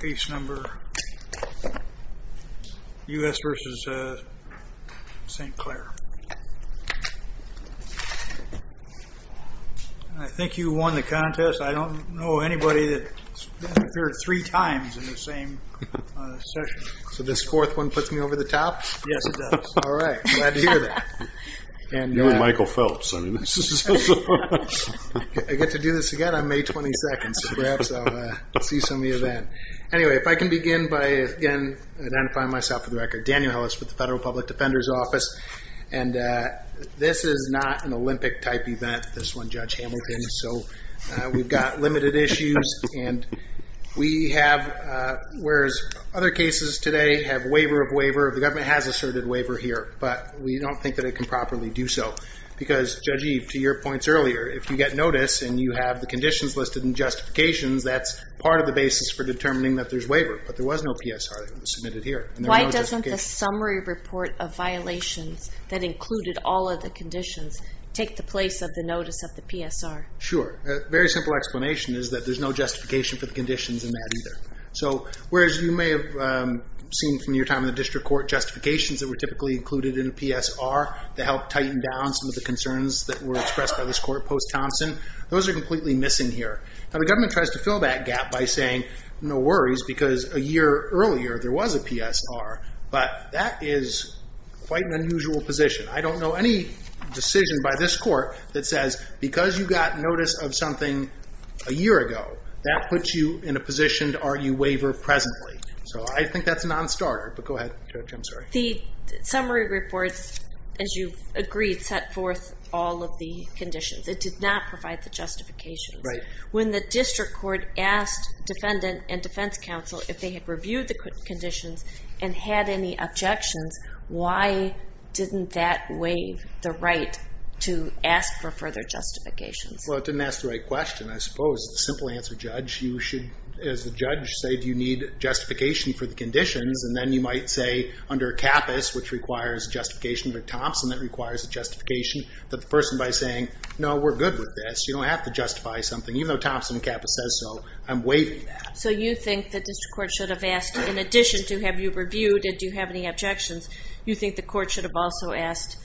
Case number U.S. v. St. Clair I think you won the contest. I don't know anybody that appeared three times in the same session. So this fourth one puts me over the top? Yes it does. Alright, glad to hear that. You're Michael Phelps. I get to do this again on May 22nd. Perhaps I'll see some of you then. Anyway, if I can begin by again identifying myself for the record. Daniel Hellis with the Federal Public Defender's Office. And this is not an Olympic-type event, this one, Judge Hamilton. So we've got limited issues. And we have, whereas other cases today have waiver of waiver, the government has asserted waiver here, but we don't think that it can properly do so. Because, Judge Eve, to your points earlier, if you get notice and you have the conditions listed in justifications, that's part of the basis for determining that there's waiver. But there was no PSR that was submitted here. Why doesn't the summary report of violations that included all of the conditions take the place of the notice of the PSR? Sure. A very simple explanation is that there's no justification for the conditions in that either. So whereas you may have seen from your time in the district court justifications that were typically included in a PSR to help tighten down some of the concerns that were expressed by this court post-Thompson, those are completely missing here. Now the government tries to fill that gap by saying, no worries because a year earlier there was a PSR. But that is quite an unusual position. I don't know any decision by this court that says, because you got notice of something a year ago, that puts you in a position to argue waiver presently. So I think that's a non-starter. But go ahead, Judge, I'm sorry. The summary reports, as you've agreed, set forth all of the conditions. It did not provide the justifications. Right. When the district court asked defendant and defense counsel if they had reviewed the conditions and had any objections, why didn't that waive the right to ask for further justifications? Well, it didn't ask the right question, I suppose. It's a simple answer, Judge. You should, as the judge, say, do you need justification for the conditions? And then you might say, under CAPAS, which requires justification for Thompson, that requires a justification for the person by saying, no, we're good with this, you don't have to justify something. Even though Thompson and CAPAS says so, I'm waiving that. So you think the district court should have asked, in addition to have you reviewed and do you have any objections, you think the court should have also asked,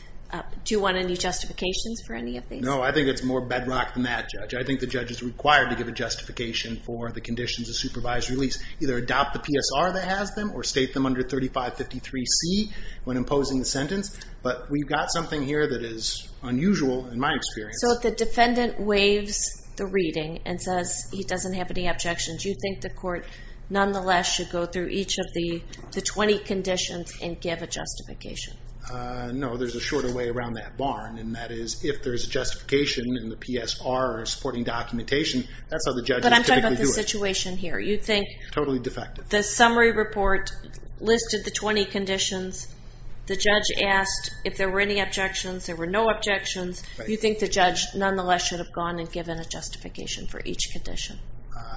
do you want any justifications for any of these? No, I think it's more bedrock than that, Judge. I think the judge is required to give a justification for the conditions of supervised release. Either adopt the PSR that has them or state them under 3553C when imposing the sentence. But we've got something here that is unusual, in my experience. So if the defendant waives the reading and says he doesn't have any objections, do you think the court, nonetheless, should go through each of the 20 conditions and give a justification? No, there's a shorter way around that barn, and that is if there's a justification in the PSR or supporting documentation, that's how the judge would typically do it. But I'm talking about the situation here. You'd think the summary report listed the 20 conditions. The judge asked if there were any objections. There were no objections. You'd think the judge, nonetheless, should have gone and given a justification for each condition.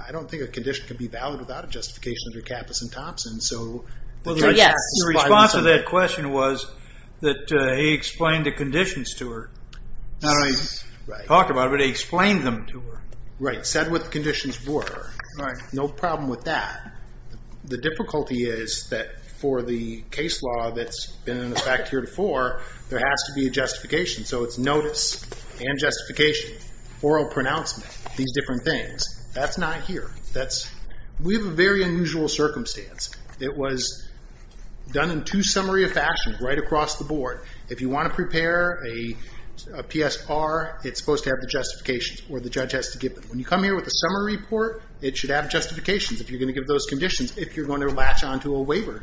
I don't think a condition can be valid without a justification under Kappus and Thompson. Your response to that question was that he explained the conditions to her. Not only talked about it, but he explained them to her. Right, said what the conditions were. Right, no problem with that. The difficulty is that for the case law that's been in effect here before, there has to be a justification. So it's notice and justification, oral pronouncement, these different things. That's not here. We have a very unusual circumstance. It was done in too summary a fashion right across the board. If you want to prepare a PSR, it's supposed to have the justifications or the judge has to give them. When you come here with a summary report, it should have justifications if you're going to give those conditions, if you're going to latch on to a waiver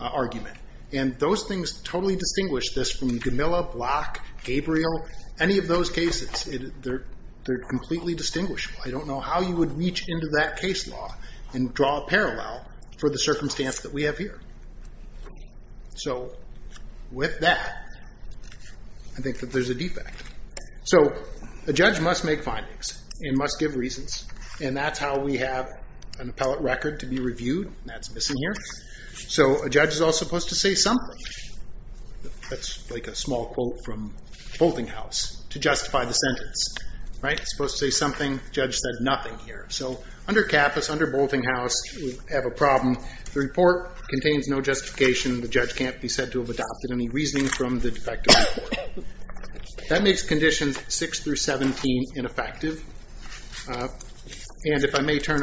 argument. And those things totally distinguish this from Gamilla, Block, Gabriel, any of those cases. They're completely distinguishable. I don't know how you would reach into that case law and draw a parallel for the circumstance that we have here. So with that, I think that there's a defect. So a judge must make findings and must give reasons, and that's how we have an appellate record to be reviewed. That's missing here. So a judge is also supposed to say something. That's like a small quote from Boltinghouse to justify the sentence. It's supposed to say something. The judge said nothing here. So under CAPAS, under Boltinghouse, we have a problem. The report contains no justification. The judge can't be said to have adopted any reasoning from the defective report. That makes Conditions 6 through 17 ineffective. And if I may turn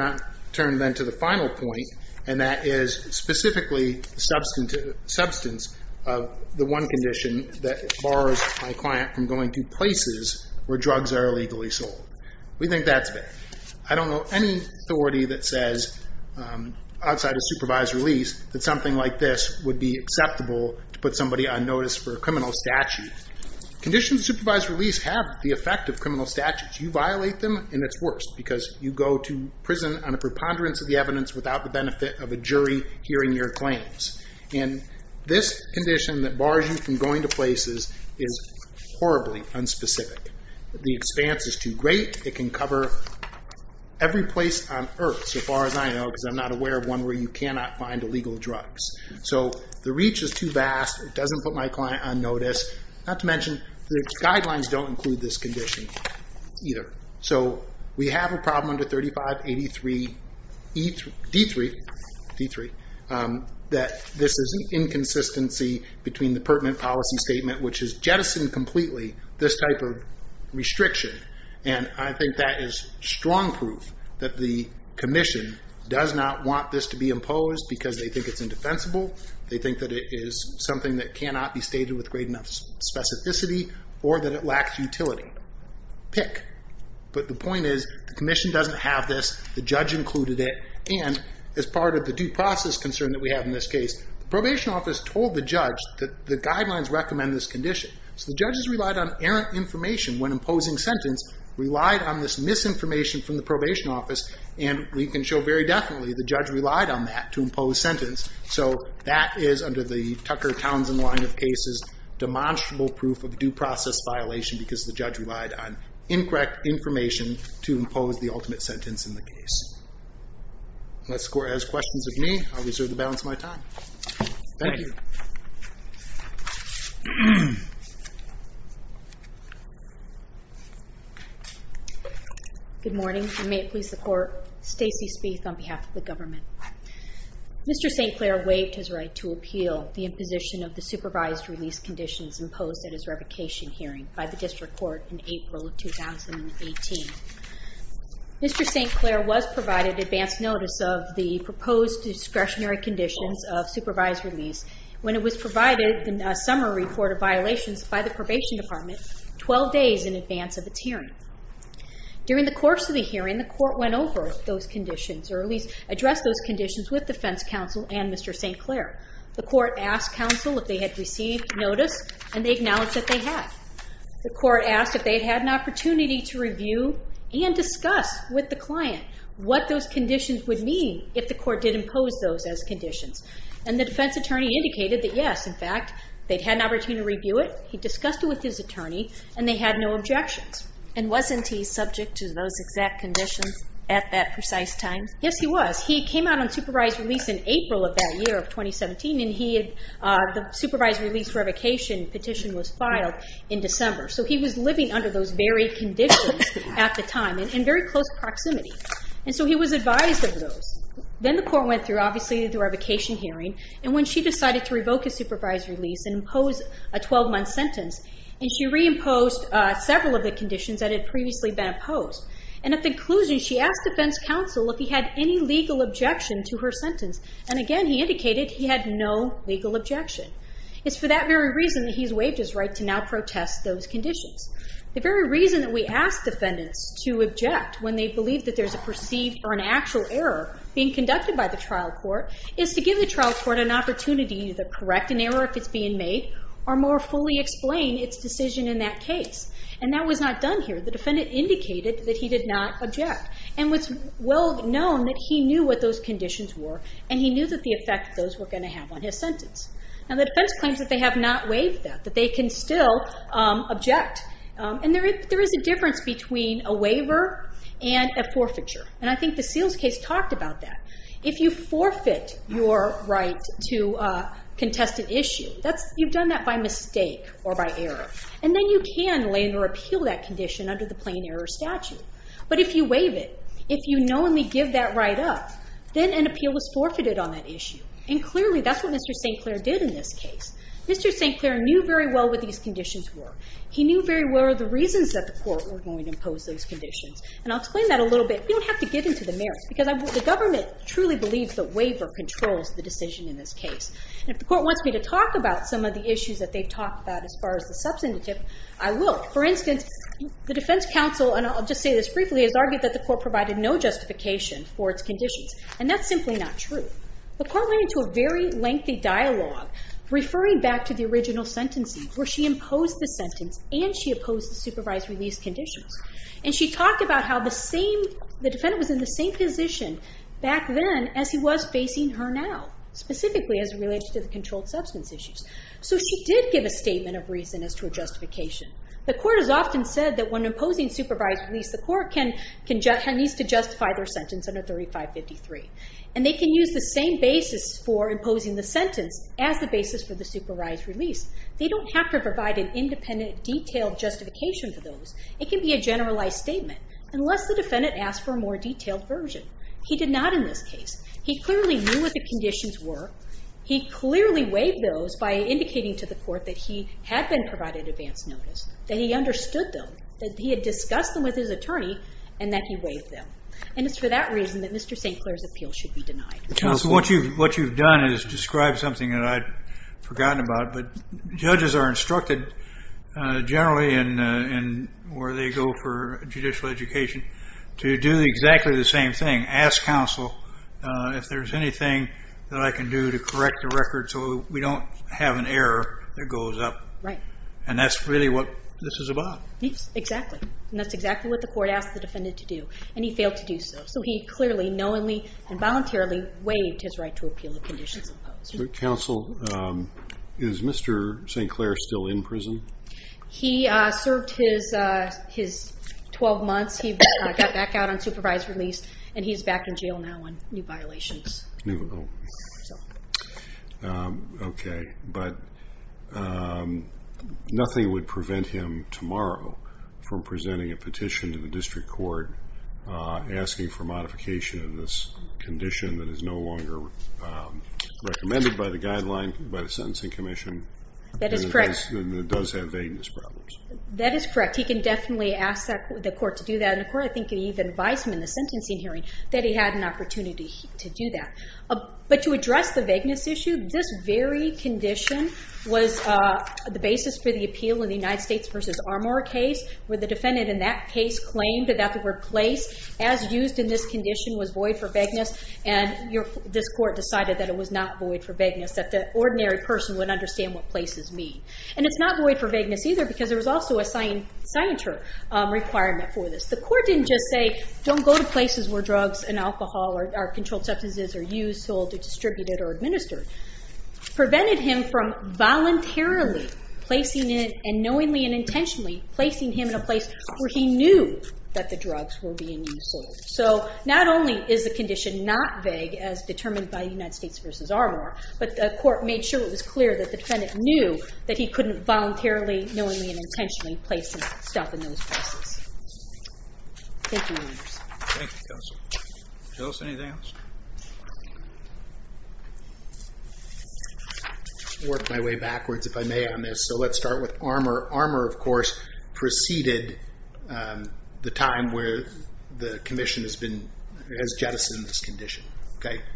then to the final point, and that is specifically the substance of the one condition that bars my client from going to places where drugs are illegally sold. We think that's bad. I don't know any authority that says, outside of supervised release, that something like this would be acceptable to put somebody on notice for a criminal statute. Conditions of supervised release have the effect of criminal statutes. You violate them, and it's worse, because you go to prison on a preponderance of the evidence without the benefit of a jury hearing your claims. And this condition that bars you from going to places is horribly unspecific. The expanse is too great. It can cover every place on earth, so far as I know, because I'm not aware of one where you cannot find illegal drugs. So the reach is too vast. It doesn't put my client on notice. Not to mention, the guidelines don't include this condition either. So we have a problem under 3583 D3 that this is inconsistency between the pertinent policy statement, which has jettisoned completely this type of restriction. And I think that is strong proof that the commission does not want this to be imposed because they think it's indefensible. They think that it is something that cannot be stated with great enough specificity or that it lacks utility. Pick. But the point is, the commission doesn't have this. The judge included it. And as part of the due process concern that we have in this case, the probation office told the judge that the guidelines recommend this condition. So the judges relied on errant information when imposing sentence, relied on this misinformation from the probation office, and we can show very definitely the judge relied on that to impose sentence. So that is, under the Tucker-Townsend line of cases, demonstrable proof of due process violation because the judge relied on incorrect information to impose the ultimate sentence in the case. Unless the Court has questions of me, I'll reserve the balance of my time. Thank you. Thank you. Good morning, and may it please the Court. Stacey Spieth on behalf of the government. Mr. St. Clair waived his right to appeal the imposition of the supervised release conditions imposed at his revocation hearing by the district court in April of 2018. Mr. St. Clair was provided advance notice of the proposed discretionary conditions of supervised release when it was provided in a summary report of violations by the probation department 12 days in advance of its hearing. During the course of the hearing, the Court went over those conditions or at least addressed those conditions with defense counsel and Mr. St. Clair. The Court asked counsel if they had received notice, and they acknowledged that they had. The Court asked if they had had an opportunity to review and discuss with the client what those conditions would mean if the Court did impose those as conditions. And the defense attorney indicated that, yes, in fact, they'd had an opportunity to review it, he discussed it with his attorney, and they had no objections. And wasn't he subject to those exact conditions at that precise time? Yes, he was. He came out on supervised release in April of that year of 2017, and the supervised release revocation petition was filed in December. So he was living under those very conditions at the time and in very close proximity. And so he was advised of those. Then the Court went through, obviously, the revocation hearing, and when she decided to revoke his supervised release and impose a 12-month sentence, and she reimposed several of the conditions that had previously been opposed. And at the conclusion, she asked defense counsel if he had any legal objection to her sentence. And again, he indicated he had no legal objection. It's for that very reason that he's waived his right to now protest those conditions. The very reason that we ask defendants to object when they believe that there's a perceived or an actual error being conducted by the trial court is to give the trial court an opportunity to correct an error if it's being made or more fully explain its decision in that case. And that was not done here. The defendant indicated that he did not object and it was well known that he knew what those conditions were and he knew that the effect those were going to have on his sentence. And the defense claims that they have not waived that, that they can still object. And there is a difference between a waiver and a forfeiture, and I think the Seals case talked about that. If you forfeit your right to contest an issue, you've done that by mistake or by error. And then you can lay in or appeal that condition under the plain error statute. But if you waive it, if you knowingly give that right up, then an appeal was forfeited on that issue. And clearly, that's what Mr. St. Clair did in this case. Mr. St. Clair knew very well what these conditions were. He knew very well the reasons that the court were going to impose those conditions. And I'll explain that a little bit. We don't have to get into the merits because the government truly believes that waiver controls the decision in this case. And if the court wants me to talk about some of the issues that they've talked about as far as the substantive, I will. For instance, the defense counsel, and I'll just say this briefly, has argued that the court provided no justification for its conditions. And that's simply not true. The court went into a very lengthy dialogue referring back to the original sentencing where she imposed the sentence and she opposed the supervised release conditions. And she talked about how the same, the defendant was in the same position back then as he was facing her now, specifically as it relates to the controlled substance issues. So she did give a statement of reason as to a justification. The court has often said that when imposing supervised release, the court needs to justify their sentence under 3553. And they can use the same basis for imposing the sentence as the basis for the supervised release. They don't have to provide an independent, detailed justification for those. It can be a generalized statement. Unless the defendant asked for a more detailed version. He did not in this case. He clearly knew what the conditions were. He clearly waived those by indicating to the court that he had been provided advance notice, that he understood them, that he had discussed them with his attorney, and that he waived them. And it's for that reason that Mr. St. Clair's appeal should be denied. So what you've done is describe something that I'd forgotten about, but judges are instructed generally in where they go for judicial education to do exactly the same thing. Ask counsel if there's anything that I can do to correct the record so we don't have an error that goes up. And that's really what this is about. Yes, exactly. And that's exactly what the court asked the defendant to do. And he failed to do so. So he clearly, knowingly, and voluntarily waived his right to appeal the conditions imposed. Counsel, is Mr. St. Clair still in prison? He served his 12 months. He got back out on supervised release, and he's back in jail now on new violations. Okay. But nothing would prevent him tomorrow from presenting a petition to the district court asking for modification of this condition that is no longer recommended by the guideline by the Sentencing Commission. That is correct. He can ask them if it does have vagueness problems. That is correct. He can definitely ask the court to do that. And the court, I think, even advised him in the sentencing hearing that he had an opportunity to do that. But to address the vagueness issue, this very condition was the basis for the appeal in the United States v. Armour case where the defendant in that case claimed that the word place, as used in this condition, was void for vagueness. And this court decided that it was not void for vagueness, that the ordinary person would understand what places mean. And it's not void for vagueness either because there was also a signature requirement for this. The court didn't just say, don't go to places where drugs and alcohol or controlled substances are used, sold, distributed, or administered. It prevented him from voluntarily placing it, and knowingly and intentionally placing him in a place where he knew that the drugs were being sold. So not only is the condition not vague as determined by the United States v. Armour, but the court made sure it was clear that the defendant knew that he couldn't voluntarily, knowingly, and intentionally place himself in those places. Thank you, Your Honors. Thank you, Counsel. Joseph, anything else? I'll work my way backwards, if I may, on this. So let's start with Armour. Armour, of course, preceded the time where the Commission has jettisoned this condition.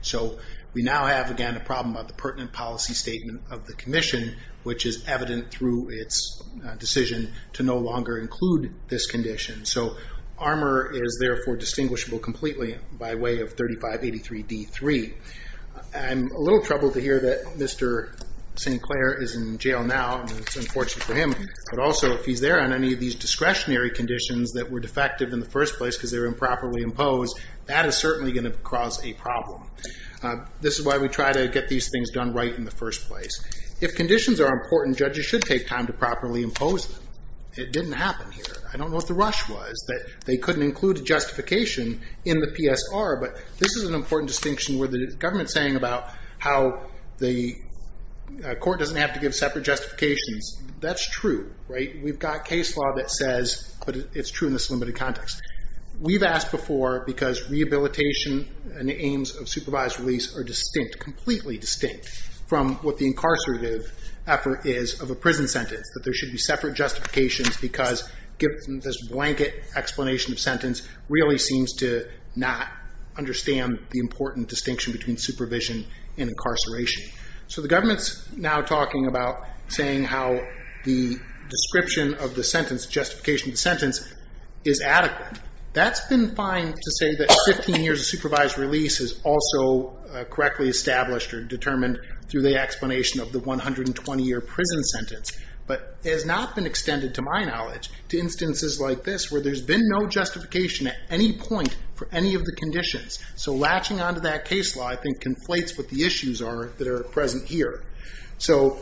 So we now have, again, a problem of the pertinent policy statement of the Commission, which is evident through its decision to no longer include this condition. So Armour is therefore distinguishable completely by way of 3583D3. I'm a little troubled to hear that Mr. Sinclair is in jail now, and it's unfortunate for him, but also if he's there on any of these discretionary conditions that were defective in the first place because they were improperly imposed, that is certainly going to cause a problem. This is why we try to get these things done right in the first place. If conditions are important, judges should take time to properly impose them. It didn't happen here. I don't know what the rush was, that they couldn't include a justification in the PSR, but this is an important distinction where the government is saying about how the court doesn't have to give separate justifications. That's true, right? We've got case law that says, but it's true in this limited context. We've asked before because rehabilitation and the aims of supervised release are distinct, completely distinct from what the incarcerative effort is of a prison sentence, that there should be separate justifications because given this blanket explanation of sentence really seems to not understand the important distinction between supervision and incarceration. So the government's now talking about saying how the description of the sentence, justification of the sentence, is adequate. That's been fine to say that 15 years of supervised release is also correctly established or determined through the explanation of the 120-year prison sentence, but it has not been extended, to my knowledge, to instances like this where there's been no justification at any point for any of the conditions. So latching onto that case law, I think, conflates what the issues are that are present here. So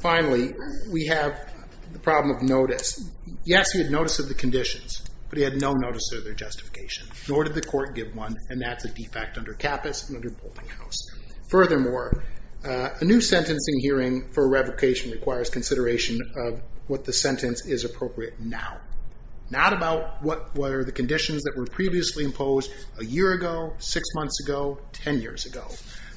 finally, we have the problem of notice. Yes, he had notice of the conditions, but he had no notice of their justification, nor did the court give one, and that's a defect under CAPAS and under Boltinghouse. Furthermore, a new sentencing hearing for revocation requires consideration of what the sentence is appropriate now, not about what were the conditions that were previously imposed a year ago, six months ago, ten years ago.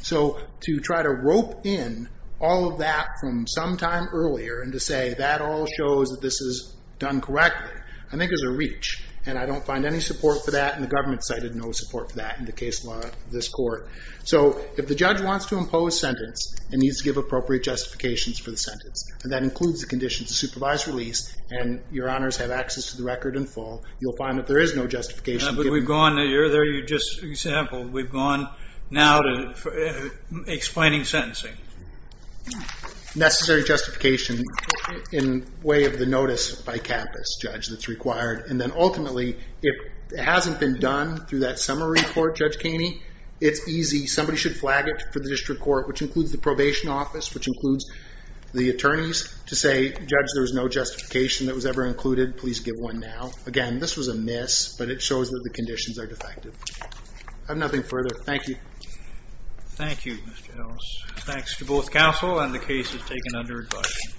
So to try to rope in all of that from some time earlier and to say that all shows that this is done correctly, I think is a reach, and I don't find any support for that and the government cited no support for that in the case law of this court. So if the judge wants to impose sentence and needs to give appropriate justifications for the sentence, and that includes the conditions of supervised release and Your Honors have access to the record in full, you'll find that there is no justification given. But we've gone a year there, you just sampled. We've gone now to explaining sentencing. Necessary justification in way of the notice by CAPAS, Judge, that's required. And then ultimately, if it hasn't been done through that summary report, Judge Kaney, it's easy. Somebody should flag it for the district court, which includes the probation office, which includes the attorneys, to say, Judge, there was no justification that was ever included. Please give one now. Again, this was a miss, but it shows that the conditions are defective. I have nothing further. Thank you. Thank you, Mr. Ellis. Thanks to both counsel and the case is taken under advisement.